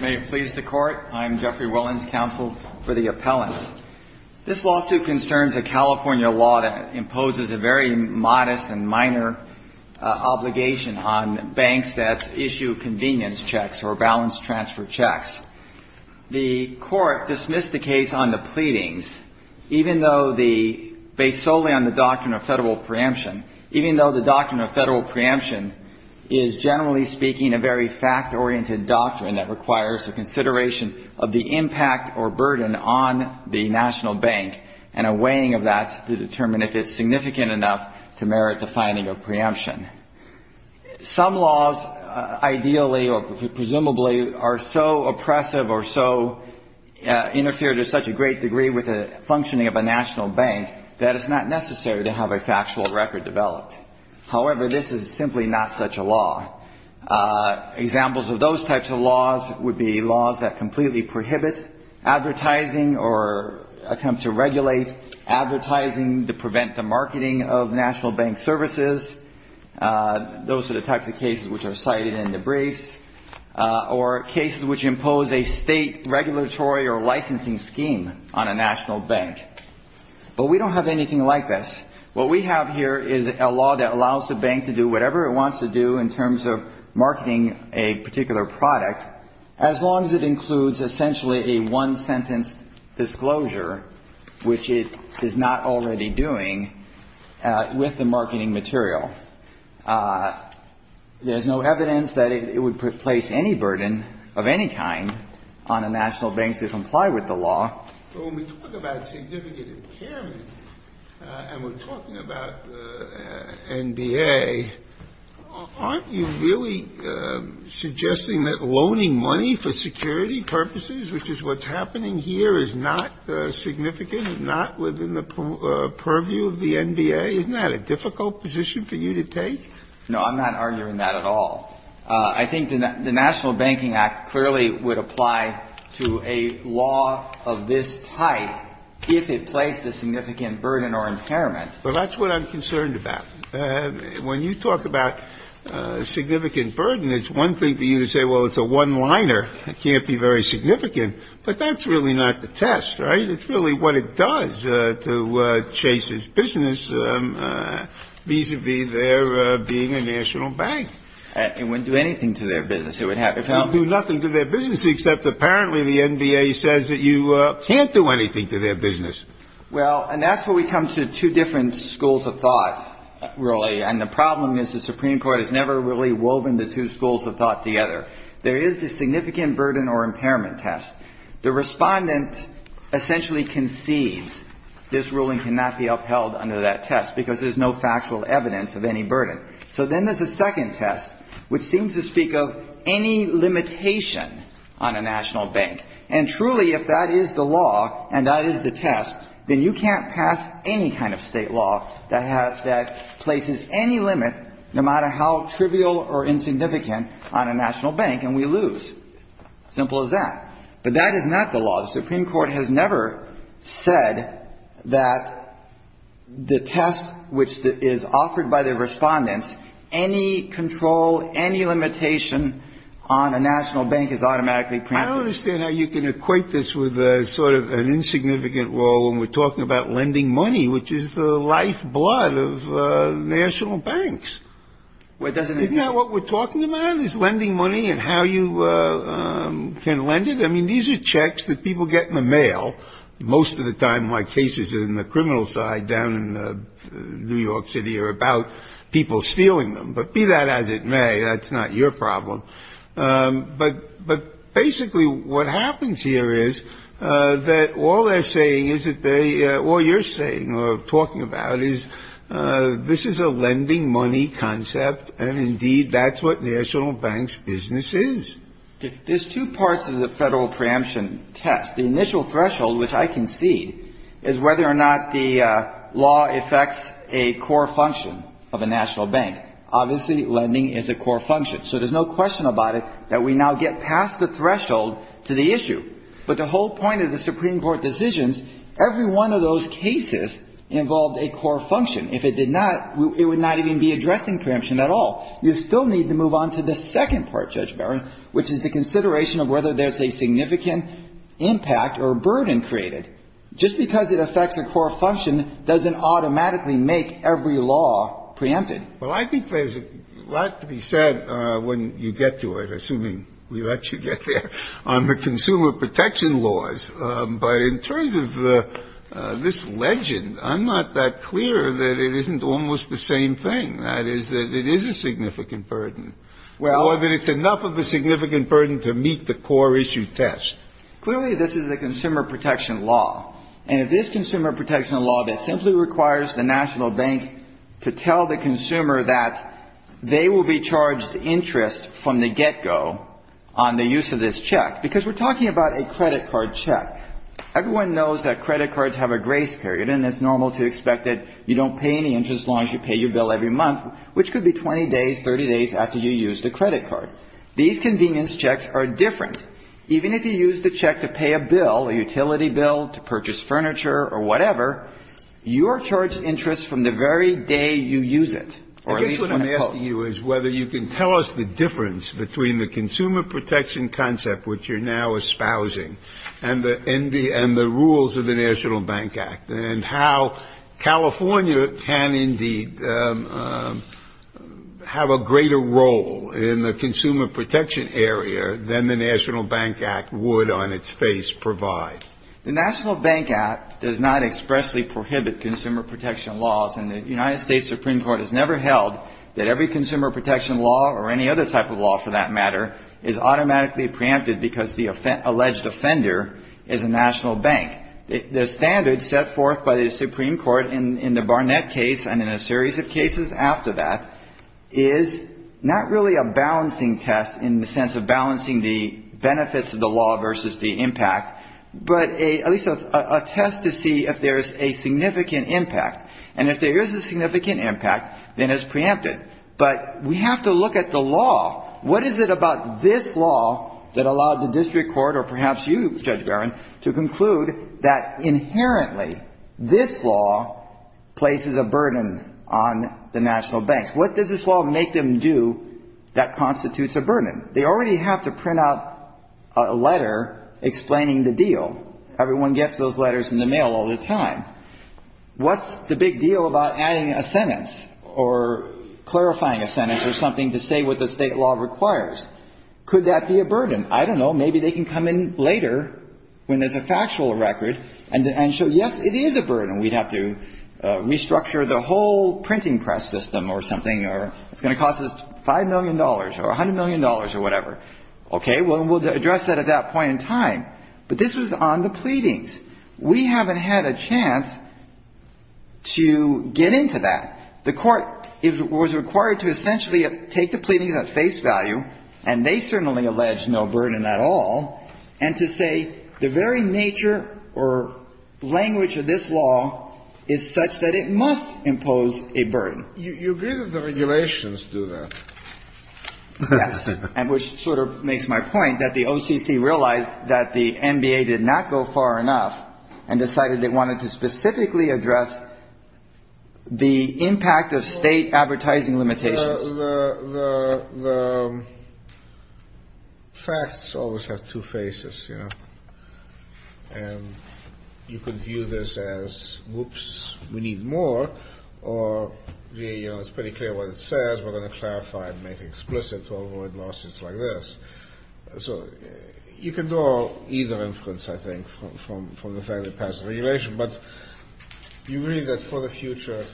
May it please the Court, I'm Jeffrey Wellens, counsel for the appellant. This lawsuit concerns a California law that imposes a very modest and minor obligation on banks that issue convenience checks or balance transfer checks. The Court dismissed the case on the pleadings, even though the – based solely on the doctrine of federal preemption, even though the doctrine of federal preemption is, generally speaking, a very fact-oriented doctrine that requires a consideration of the impact or burden on the national bank and a weighing of that to determine if it's significant enough to merit the finding of preemption. Some laws, ideally or presumably, are so oppressive or so – interfere to such a great degree with the functioning of a national bank that it's not necessary to have a factual record developed. However, this is simply not such a law. Examples of those types of laws would be laws that completely prohibit advertising or attempt to regulate advertising to prevent the marketing of national bank services. Those are the types of cases which are cited in the briefs. Or cases which impose a state regulatory or licensing scheme on a national bank. But we don't have anything like this. What we have here is a law that allows the bank to do whatever it wants to do in terms of marketing a particular product, as long as it includes essentially a one-sentence disclosure, which it is not already doing with the marketing material. There's no evidence that it would place any burden of any kind on a national bank to comply with the law. But when we talk about significant impairment and we're talking about the NBA, aren't you really suggesting that loaning money for security purposes, which is what's happening here, is not significant and not within the purview of the NBA? Isn't that a difficult position for you to take? No, I'm not arguing that at all. I think the National Banking Act clearly would apply to a law of this type if it placed a significant burden or impairment. Well, that's what I'm concerned about. When you talk about significant burden, it's one thing for you to say, well, it's a one-liner. It can't be very significant. But that's really not the test, right? It's really what it does to Chase's business vis-à-vis their being a national bank. It wouldn't do anything to their business. It would have to help them. It would do nothing to their business, except apparently the NBA says that you can't do anything to their business. Well, and that's where we come to two different schools of thought, really. And the problem is the Supreme Court has never really woven the two schools of thought together. There is the significant burden or impairment test. The Respondent essentially concedes this ruling cannot be upheld under that test because there's no factual evidence of any burden. So then there's a second test, which seems to speak of any limitation on a national bank. And truly, if that is the law and that is the test, then you can't pass any kind of state law that places any limit, no matter how trivial or insignificant, on a national bank, and we lose. Simple as that. But that is not the law. The Supreme Court has never said that the test which is offered by the Respondents, any control, any limitation on a national bank is automatically preempted. I don't understand how you can equate this with sort of an insignificant role when we're talking about lending money, which is the lifeblood of national banks. Isn't that what we're talking about, is lending money and how you can lend it? I mean, these are checks that people get in the mail. Most of the time my cases in the criminal side down in New York City are about people stealing them. But be that as it may, that's not your problem. But basically what happens here is that all they're saying is that they — all you're saying or talking about is this is a lending money concept, and indeed that's what national banks' business is. There's two parts of the Federal preemption test. The initial threshold, which I concede, is whether or not the law affects a core function of a national bank. Obviously, lending is a core function. So there's no question about it that we now get past the threshold to the issue. But the whole point of the Supreme Court decisions, every one of those cases involved a core function. If it did not, it would not even be addressing preemption at all. You still need to move on to the second part, Judge Barron, which is the consideration of whether there's a significant impact or burden created. Just because it affects a core function doesn't automatically make every law preempted. Well, I think there's a lot to be said when you get to it, assuming we let you get there, on the consumer protection laws. But in terms of this legend, I'm not that clear that it isn't almost the same thing. That is, that it is a significant burden or that it's enough of a significant burden to meet the core issue test. Clearly, this is a consumer protection law. And if this consumer protection law that simply requires the national bank to tell the consumer that they will be charged interest from the get-go on the use of this check, because we're talking about a credit card check, everyone knows that credit cards have a grace period, and it's normal to expect that you don't pay any interest as long as you pay your bill every month, which could be 20 days, 30 days after you use the credit card. These convenience checks are different. Even if you use the check to pay a bill, a utility bill, to purchase furniture or whatever, you are charged interest from the very day you use it, or at least when it posts. I guess what I'm asking you is whether you can tell us the difference between the consumer protection concept, which you're now espousing, and the rules of the National Bank Act, and how California can indeed have a greater role in the consumer protection area than the National Bank Act would, on its face, provide. The National Bank Act does not expressly prohibit consumer protection laws, and the United States Supreme Court has never held that every consumer protection law, or any other type of law for that matter, is automatically preempted because the alleged offender is a national bank. The standard set forth by the Supreme Court in the Barnett case and in a series of cases after that is not really a balancing test in the sense of balancing the benefits of the law versus the impact, but at least a test to see if there is a significant impact. And if there is a significant impact, then it's preempted. But we have to look at the law. What is it about this law that allowed the district court or perhaps you, Judge Barron, to conclude that inherently this law places a burden on the national banks? What does this law make them do that constitutes a burden? They already have to print out a letter explaining the deal. Everyone gets those letters in the mail all the time. What's the big deal about adding a sentence or clarifying a sentence or something to say what the State law requires? Could that be a burden? I don't know. Maybe they can come in later when there's a factual record and show, yes, it is a burden. We'd have to restructure the whole printing press system or something or it's going to cost us $5 million or $100 million or whatever. Okay. Well, we'll address that at that point in time. But this was on the pleadings. We haven't had a chance to get into that. The Court was required to essentially take the pleadings at face value, and they certainly allege no burden at all. And to say the very nature or language of this law is such that it must impose a burden. You agree that the regulations do that. Yes. And which sort of makes my point that the OCC realized that the NBA did not go far enough and decided they wanted to specifically address the impact of State advertising limitations. The facts always have two faces, you know. And you can view this as, whoops, we need more, or it's pretty clear what it says. We're going to clarify and make it explicit to avoid losses like this. So you can do either inference, I think, from the fact that it passed the regulation. But you agree that for the future,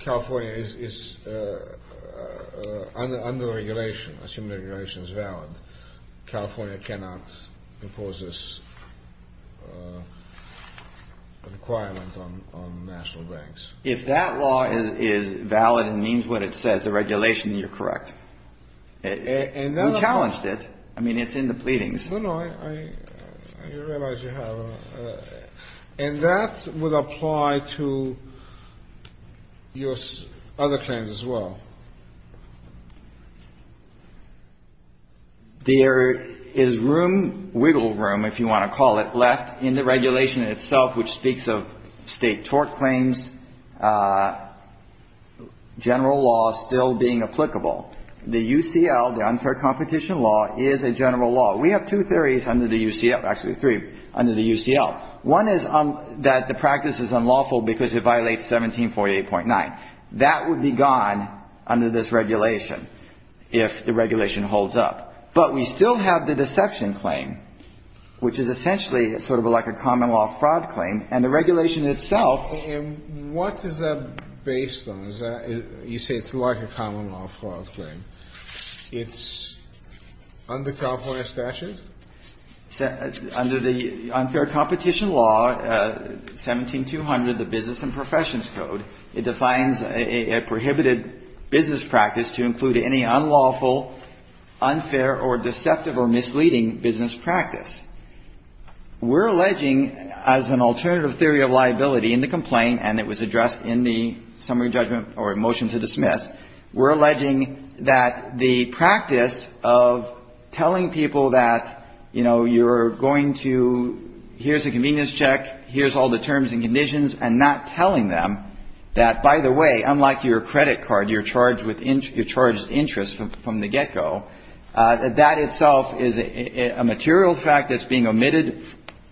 California is under regulation, assuming regulation is valid. California cannot impose this requirement on national banks. If that law is valid and means what it says, the regulation, you're correct. And we challenged it. I mean, it's in the pleadings. No, no. I realize you have. And that would apply to your other claims as well. There is room, wiggle room, if you want to call it, left in the regulation itself which speaks of State tort claims, general law still being applicable. The UCL, the unfair competition law, is a general law. We have two theories under the UCL, actually three, under the UCL. One is that the practice is unlawful because it violates 1748.9. That would be gone under this regulation if the regulation holds up. But we still have the deception claim, which is essentially sort of like a common law fraud claim. And the regulation itself ---- Under the unfair competition law, 17200, the Business and Professions Code, it defines a prohibited business practice to include any unlawful, unfair, or deceptive or misleading business practice. We're alleging as an alternative theory of liability in the complaint, and it was addressed in the summary judgment or motion to dismiss, we're alleging that the practice of telling people that, you know, you're going to ---- here's a convenience check, here's all the terms and conditions, and not telling them that, by the way, unlike your credit card, you're charged interest from the get-go, that itself is a material fact that's being omitted,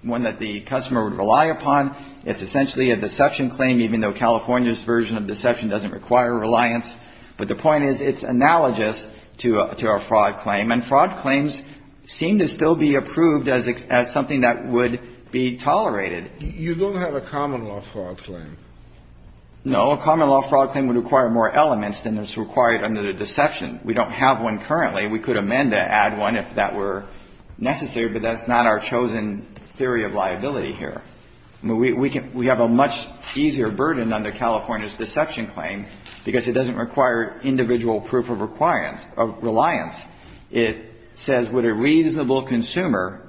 one that the customer would rely upon. It's essentially a deception claim, even though California's version of deception doesn't require reliance. But the point is it's analogous to our fraud claim, and fraud claims seem to still be approved as something that would be tolerated. You don't have a common law fraud claim. No. A common law fraud claim would require more elements than is required under the deception. We don't have one currently. We could amend to add one if that were necessary, but that's not our chosen theory of liability here. We have a much easier burden under California's deception claim because it doesn't require individual proof of reliance. It says would a reasonable consumer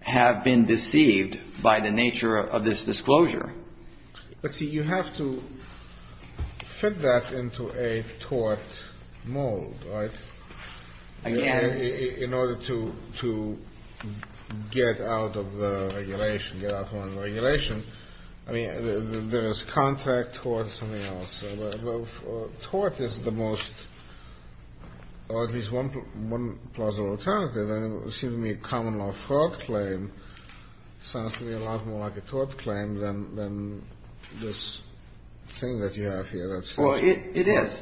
have been deceived by the nature of this disclosure? But, see, you have to fit that into a tort mold, right? Again ---- In order to get out of the regulation, get out of one regulation. I mean, there is contract, tort, something else. Tort is the most, or at least one plausible alternative, and it seems to me a common law fraud claim sounds to me a lot more like a tort claim than this thing that you have here. Well, it is.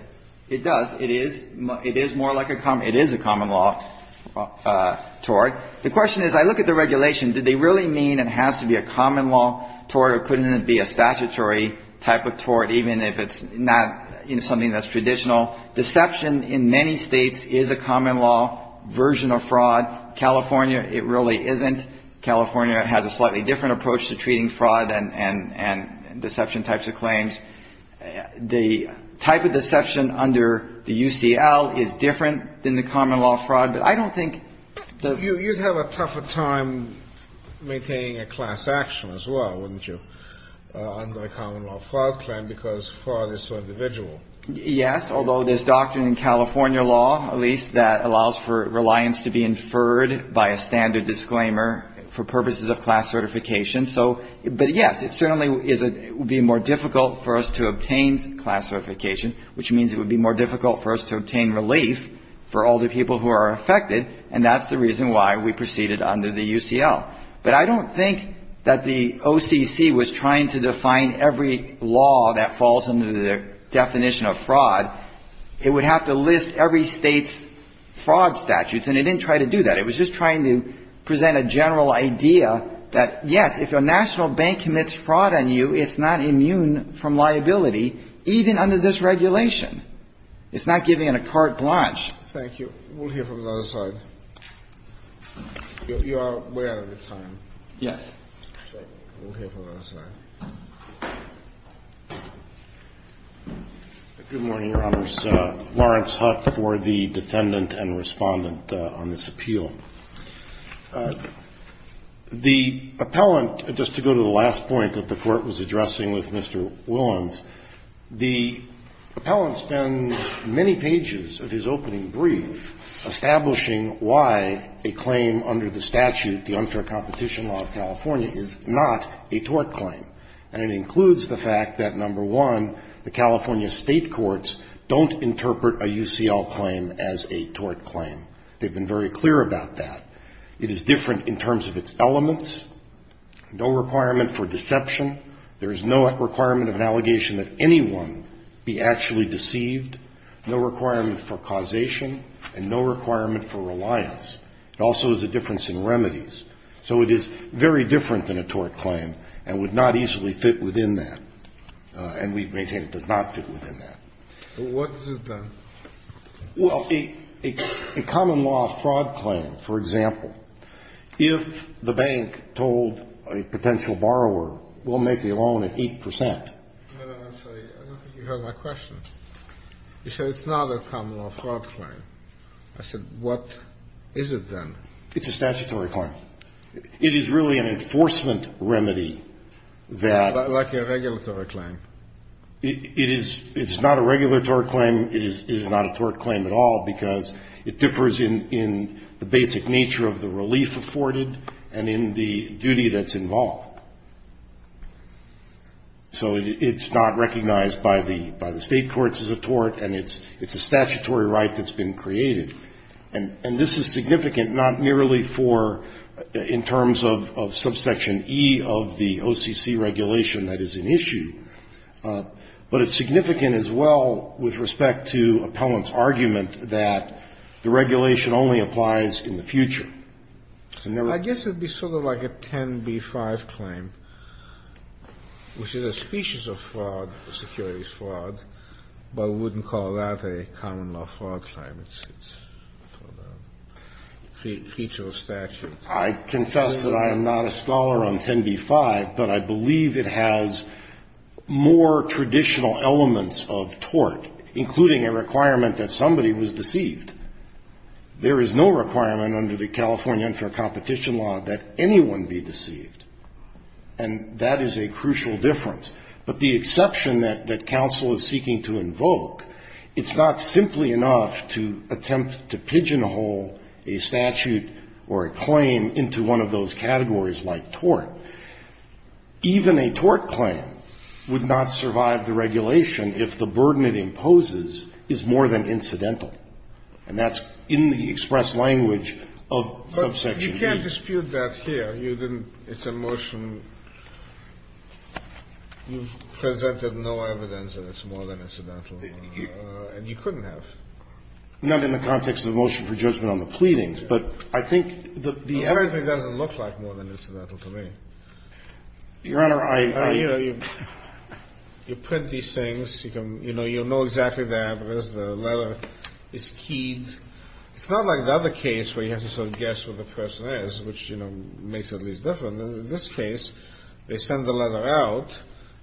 It does. It is more like a common law. It is a common law tort. The question is, I look at the regulation. Did they really mean it has to be a common law tort or couldn't it be a statutory type of tort, even if it's not, you know, something that's traditional? Deception in many States is a common law version of fraud. California, it really isn't. California has a slightly different approach to treating fraud and deception types of claims. The type of deception under the UCL is different than the common law fraud, but I don't think that ---- But you would have a tough time maintaining a class action as well, wouldn't you, under a common law fraud claim, because fraud is so individual. Yes, although there's doctrine in California law, at least, that allows for reliance to be inferred by a standard disclaimer for purposes of class certification. So, but, yes, it certainly is a ---- would be more difficult for us to obtain class certification, which means it would be more difficult for us to obtain relief for all the people who are affected, and that's the reason why we proceeded under the UCL. But I don't think that the OCC was trying to define every law that falls under the definition of fraud. It would have to list every State's fraud statutes, and it didn't try to do that. It was just trying to present a general idea that, yes, if a national bank commits fraud on you, it's not immune from liability, even under this regulation. It's not giving it a carte blanche. Thank you. We'll hear from the other side. You are way out of your time. Yes. We'll hear from the other side. Good morning, Your Honors. Lawrence Hutt for the Defendant and Respondent on this appeal. The appellant, just to go to the last point that the Court was addressing with Mr. Willans, the appellant spends many pages of his opening brief establishing why a claim under the statute, the unfair competition law of California, is not a tort claim. And it includes the fact that, number one, the California State courts don't interpret a UCL claim as a tort claim. They've been very clear about that. It is different in terms of its elements. No requirement for deception. There is no requirement of an allegation that anyone be actually deceived. No requirement for causation. And no requirement for reliance. It also is a difference in remedies. So it is very different than a tort claim and would not easily fit within that. And we maintain it does not fit within that. What does it then? Well, a common law fraud claim, for example, if the bank told a potential borrower, we'll make the loan at 8 percent. No, no, I'm sorry. I don't think you heard my question. You said it's not a common law fraud claim. I said, what is it then? It's a statutory claim. It is really an enforcement remedy that ---- Like a regulatory claim. It is not a regulatory claim. It is not a tort claim at all because it differs in the basic nature of the relief afforded and in the duty that's involved. So it's not recognized by the State courts as a tort and it's a statutory right that's been created. And this is significant not merely for in terms of subsection E of the OCC regulation that is an issue, but it's significant as well with respect to Appellant's I guess it would be sort of like a 10b-5 claim, which is a species of fraud, securities fraud, but we wouldn't call that a common law fraud claim. It's a creature of statute. I confess that I am not a scholar on 10b-5, but I believe it has more traditional elements of tort, including a requirement that somebody was deceived. There is no requirement under the California unfair competition law that anyone be deceived. And that is a crucial difference. But the exception that counsel is seeking to invoke, it's not simply enough to attempt to pigeonhole a statute or a claim into one of those categories like tort. Even a tort claim would not survive the regulation if the burden it imposes is more than incidental, and that's in the express language of subsection E. But you can't dispute that here. You didn't. It's a motion. You've presented no evidence that it's more than incidental, and you couldn't have. Not in the context of the motion for judgment on the pleadings, but I think that the other The evidence doesn't look like more than incidental to me. Your Honor, I You know, you print these things. You know exactly the address, the letter is keyed. It's not like the other case where you have to sort of guess where the person is, which, you know, makes it at least different. In this case, they send the letter out,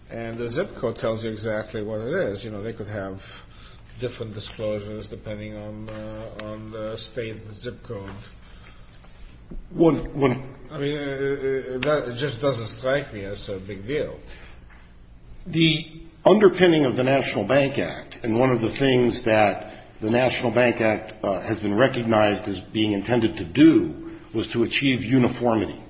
and the zip code tells you exactly what it is. You know, they could have different disclosures depending on the state of the zip code. One I mean, it just doesn't strike me as a big deal. The underpinning of the National Bank Act, and one of the things that the National Bank Act has been recognized as being intended to do, was to achieve uniformity,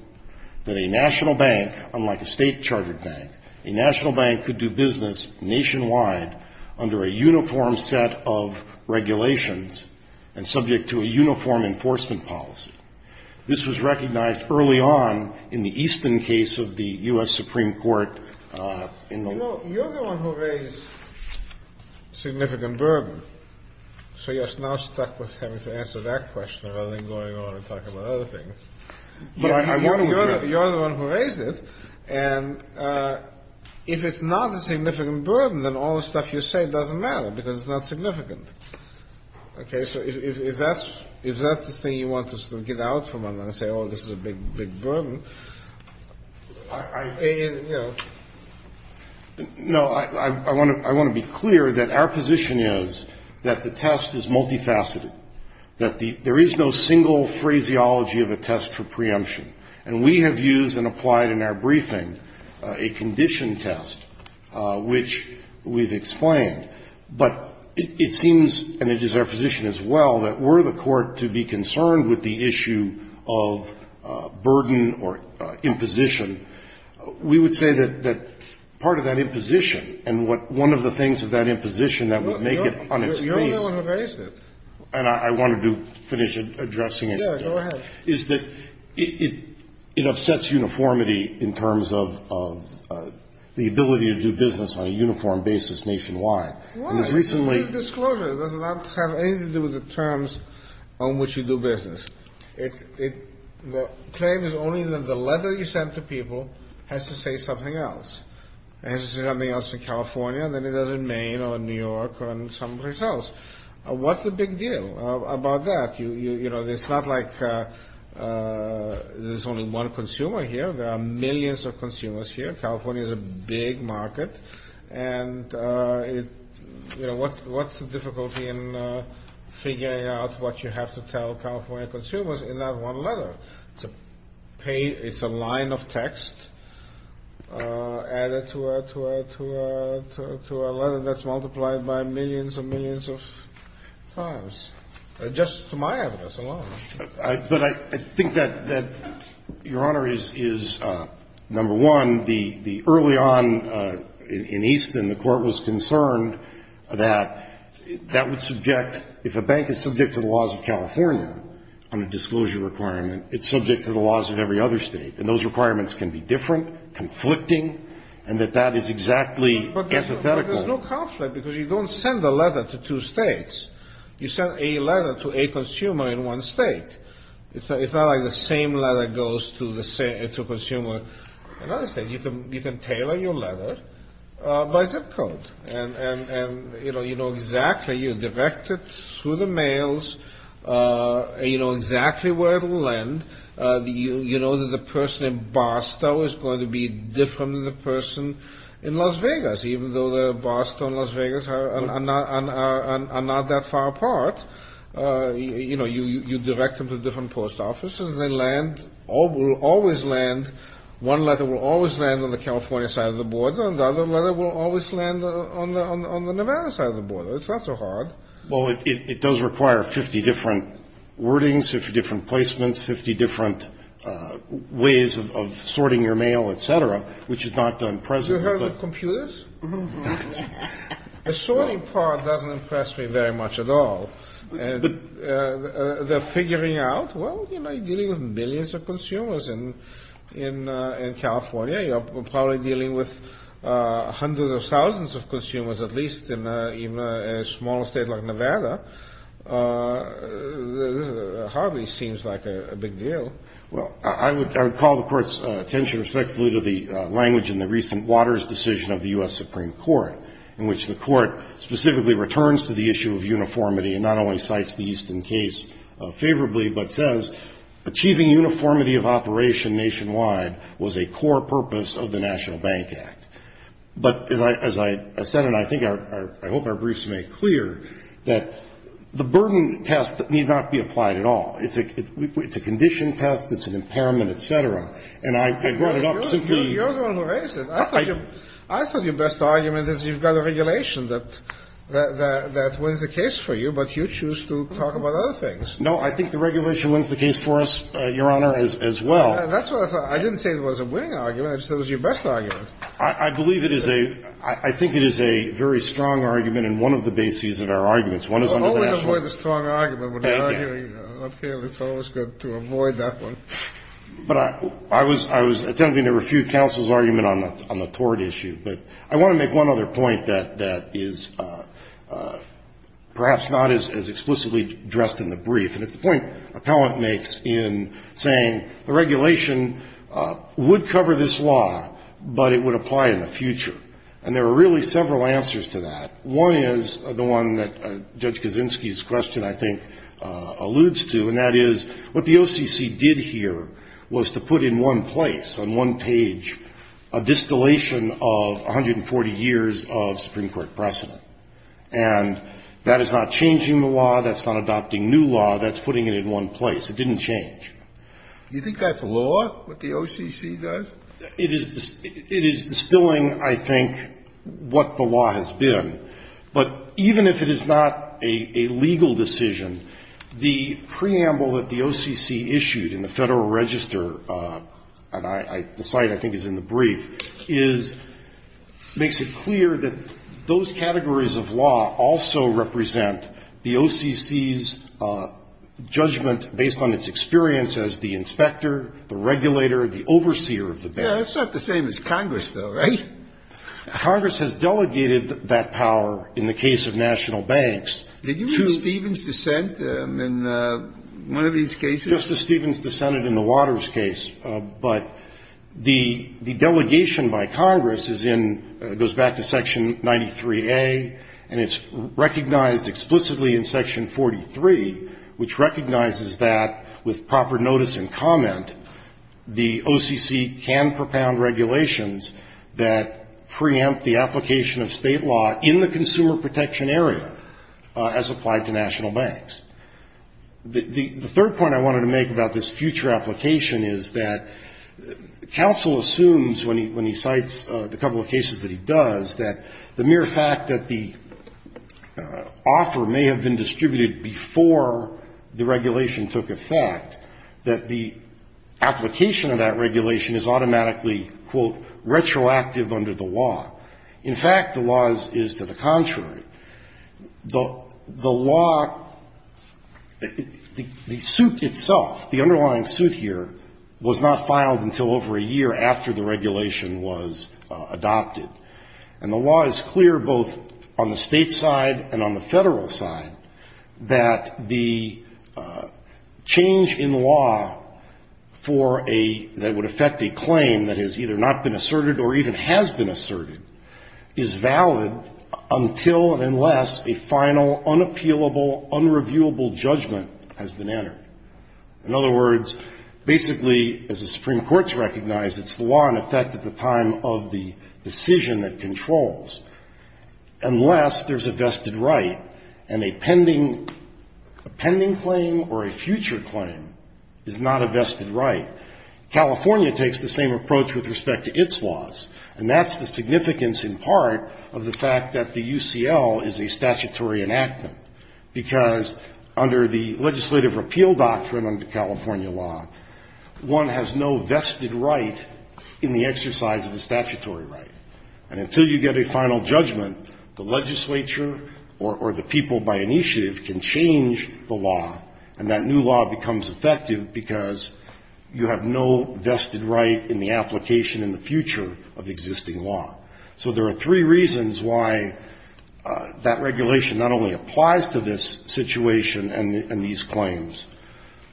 that a national bank, unlike a state-chartered bank, a national bank could do business nationwide under a uniform set of regulations and subject to a uniform enforcement policy. This was recognized early on in the Easton case of the U.S. Supreme Court in the You know, you're the one who raised significant burden. So you're now stuck with having to answer that question rather than going on and talking about other things. You're the one who raised it. And if it's not a significant burden, then all the stuff you say doesn't matter because it's not significant. Okay. So if that's the thing you want to sort of get out from and say, oh, this is a big, big burden, I, you know. No. I want to be clear that our position is that the test is multifaceted, that there is no single phraseology of a test for preemption. And we have used and applied in our briefing a condition test, which we've explained. But it seems, and it is our position as well, that were the Court to be concerned with the issue of burden or imposition, we would say that part of that imposition and what one of the things of that imposition that would make it on its face. You're the one who raised it. And I wanted to finish addressing it. Yeah, go ahead. It upsets uniformity in terms of the ability to do business on a uniform basis nationwide. Why? It's a brief disclosure. It does not have anything to do with the terms on which you do business. The claim is only that the letter you send to people has to say something else. It has to say something else in California, and then it does it in Maine or in New York or in some place else. What's the big deal about that? You know, it's not like there's only one consumer here. There are millions of consumers here. California is a big market. And, you know, what's the difficulty in figuring out what you have to tell California consumers in that one letter? It's a line of text added to a letter that's multiplied by millions and millions of times. Just to my evidence alone. But I think that, Your Honor, is, number one, the early on in Easton, the Court was concerned that that would subject, if a bank is subject to the laws of California on a disclosure requirement, it's subject to the laws of every other State. And those requirements can be different, conflicting, and that that is exactly antithetical. But there's no conflict, because you don't send a letter to two States. You send a letter to a consumer in one State. It's not like the same letter goes to a consumer in another State. You can tailor your letter by zip code. And, you know, you know exactly, you direct it through the mails. You know exactly where it will land. You know that the person in Boston is going to be different than the person in Las Vegas, even though the Boston, Las Vegas are not that far apart. You know, you direct them to different post offices, and they land, will always land, one letter will always land on the California side of the border, and the other letter will always land on the Nevada side of the border. It's not so hard. Well, it does require 50 different wordings, 50 different placements, 50 different ways of sorting your mail, et cetera, which is not done presently. Have you heard of computers? The sorting part doesn't impress me very much at all. They're figuring out, well, you know, you're dealing with millions of consumers in California. You're probably dealing with hundreds of thousands of consumers, at least in a small State like Nevada. It hardly seems like a big deal. Well, I would call the Court's attention respectfully to the language in the recent Waters decision of the U.S. Supreme Court, in which the Court specifically returns to the issue of uniformity and not only cites the Easton case favorably, but says, achieving uniformity of operation nationwide was a core purpose of the National Bank Act. But as I said, and I think I hope our briefs make clear, that the burden test need not be applied at all. It's a condition test. It's an impairment, et cetera. And I brought it up simply. You're the one who raised it. I thought your best argument is you've got a regulation that wins the case for you, but you choose to talk about other things. No, I think the regulation wins the case for us, Your Honor, as well. That's what I thought. I didn't say it was a winning argument. I said it was your best argument. I believe it is a – I think it is a very strong argument and one of the bases of our arguments. Only avoid a strong argument when you're arguing up here. It's always good to avoid that one. But I was attempting to refute counsel's argument on the tort issue. But I want to make one other point that is perhaps not as explicitly addressed in the brief. And it's the point Appellant makes in saying the regulation would cover this law, but it would apply in the future. And there are really several answers to that. One is the one that Judge Kaczynski's question, I think, alludes to. And that is what the OCC did here was to put in one place, on one page, a distillation of 140 years of Supreme Court precedent. And that is not changing the law. That's not adopting new law. That's putting it in one place. It didn't change. Do you think that's law, what the OCC does? It is distilling, I think, what the law has been. But even if it is not a legal decision, the preamble that the OCC issued in the Federal Register, and the site I think is in the brief, is, makes it clear that those categories of law also represent the OCC's judgment based on its experience as the inspector, the regulator, the overseer of the bank. Yeah. That's not the same as Congress, though, right? Congress has delegated that power in the case of national banks to the State. Did you mean Stevens dissent in one of these cases? Justice Stevens dissented in the Waters case. But the delegation by Congress is in goes back to Section 93A, and it's recognized explicitly in Section 43, which recognizes that with proper notice and comment, the OCC can propound regulations that preempt the application of State law in the consumer protection area as applied to national banks. The third point I wanted to make about this future application is that counsel assumes, when he cites the couple of cases that he does, that the mere fact that the offer may have been distributed before the regulation took effect, that the application of that regulation is automatically, quote, retroactive under the law. In fact, the law is to the contrary. The law, the suit itself, the underlying suit here, was not filed until over a year after the regulation was adopted. And the law is clear, both on the State side and on the Federal side, that the change in law for a, that would affect a claim that has either not been asserted or even has been asserted, is valid until and unless a final, unappealable, unreviewable judgment has been entered. In other words, basically, as the Supreme Court has recognized, it's the law in effect at the time of the decision that controls, unless there's a vested right and a pending claim or a future claim is not a vested right. California takes the same approach with respect to its laws, and that's the significance in part of the fact that the UCL is a statutory enactment, because under the legislative repeal doctrine under California law, one has no vested right in the exercise of a statutory right. And until you get a final judgment, the legislature or the people by initiative can change the law, and that new law becomes effective, because you have no vested right in the application in the future of existing law. So there are three reasons why that regulation not only applies to this situation and these claims,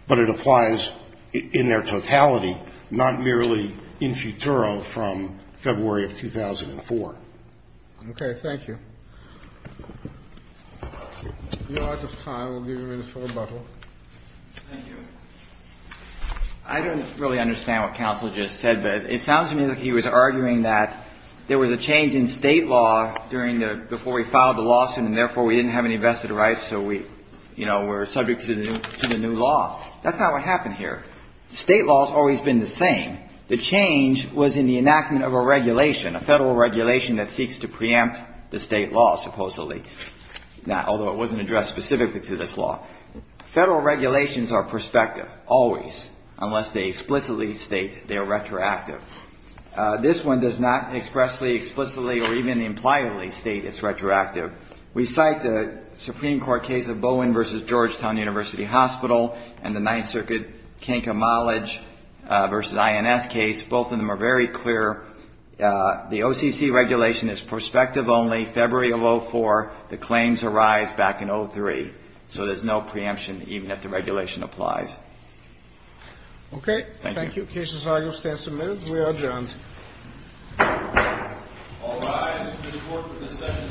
but it applies in their totality, not merely in futuro from February of 2004. Okay. Thank you. If we don't have enough time, we'll give you a minute for rebuttal. Thank you. I don't really understand what counsel just said, but it sounds to me like he was arguing that there was a change in State law during the – before we filed the lawsuit and therefore we didn't have any vested rights, so we're subject to the new law. That's not what happened here. State law has always been the same. The change was in the enactment of a regulation, a Federal regulation that seeks to preempt the State law, supposedly, although it wasn't addressed specifically to this law. Federal regulations are prospective, always, unless they explicitly state they are retroactive. This one does not expressly, explicitly, or even impliably state it's retroactive. We cite the Supreme Court case of Bowen v. Georgetown University Hospital and the Ninth Circuit Kink Amolage v. INS case. Both of them are very clear. The OCC regulation is prospective only February of 2004. The claims arise back in 2003. So there's no preemption, even if the regulation applies. Okay. Thank you. Cases are going to stand some minutes. We are adjourned. All rise. The court for this session stands adjourned.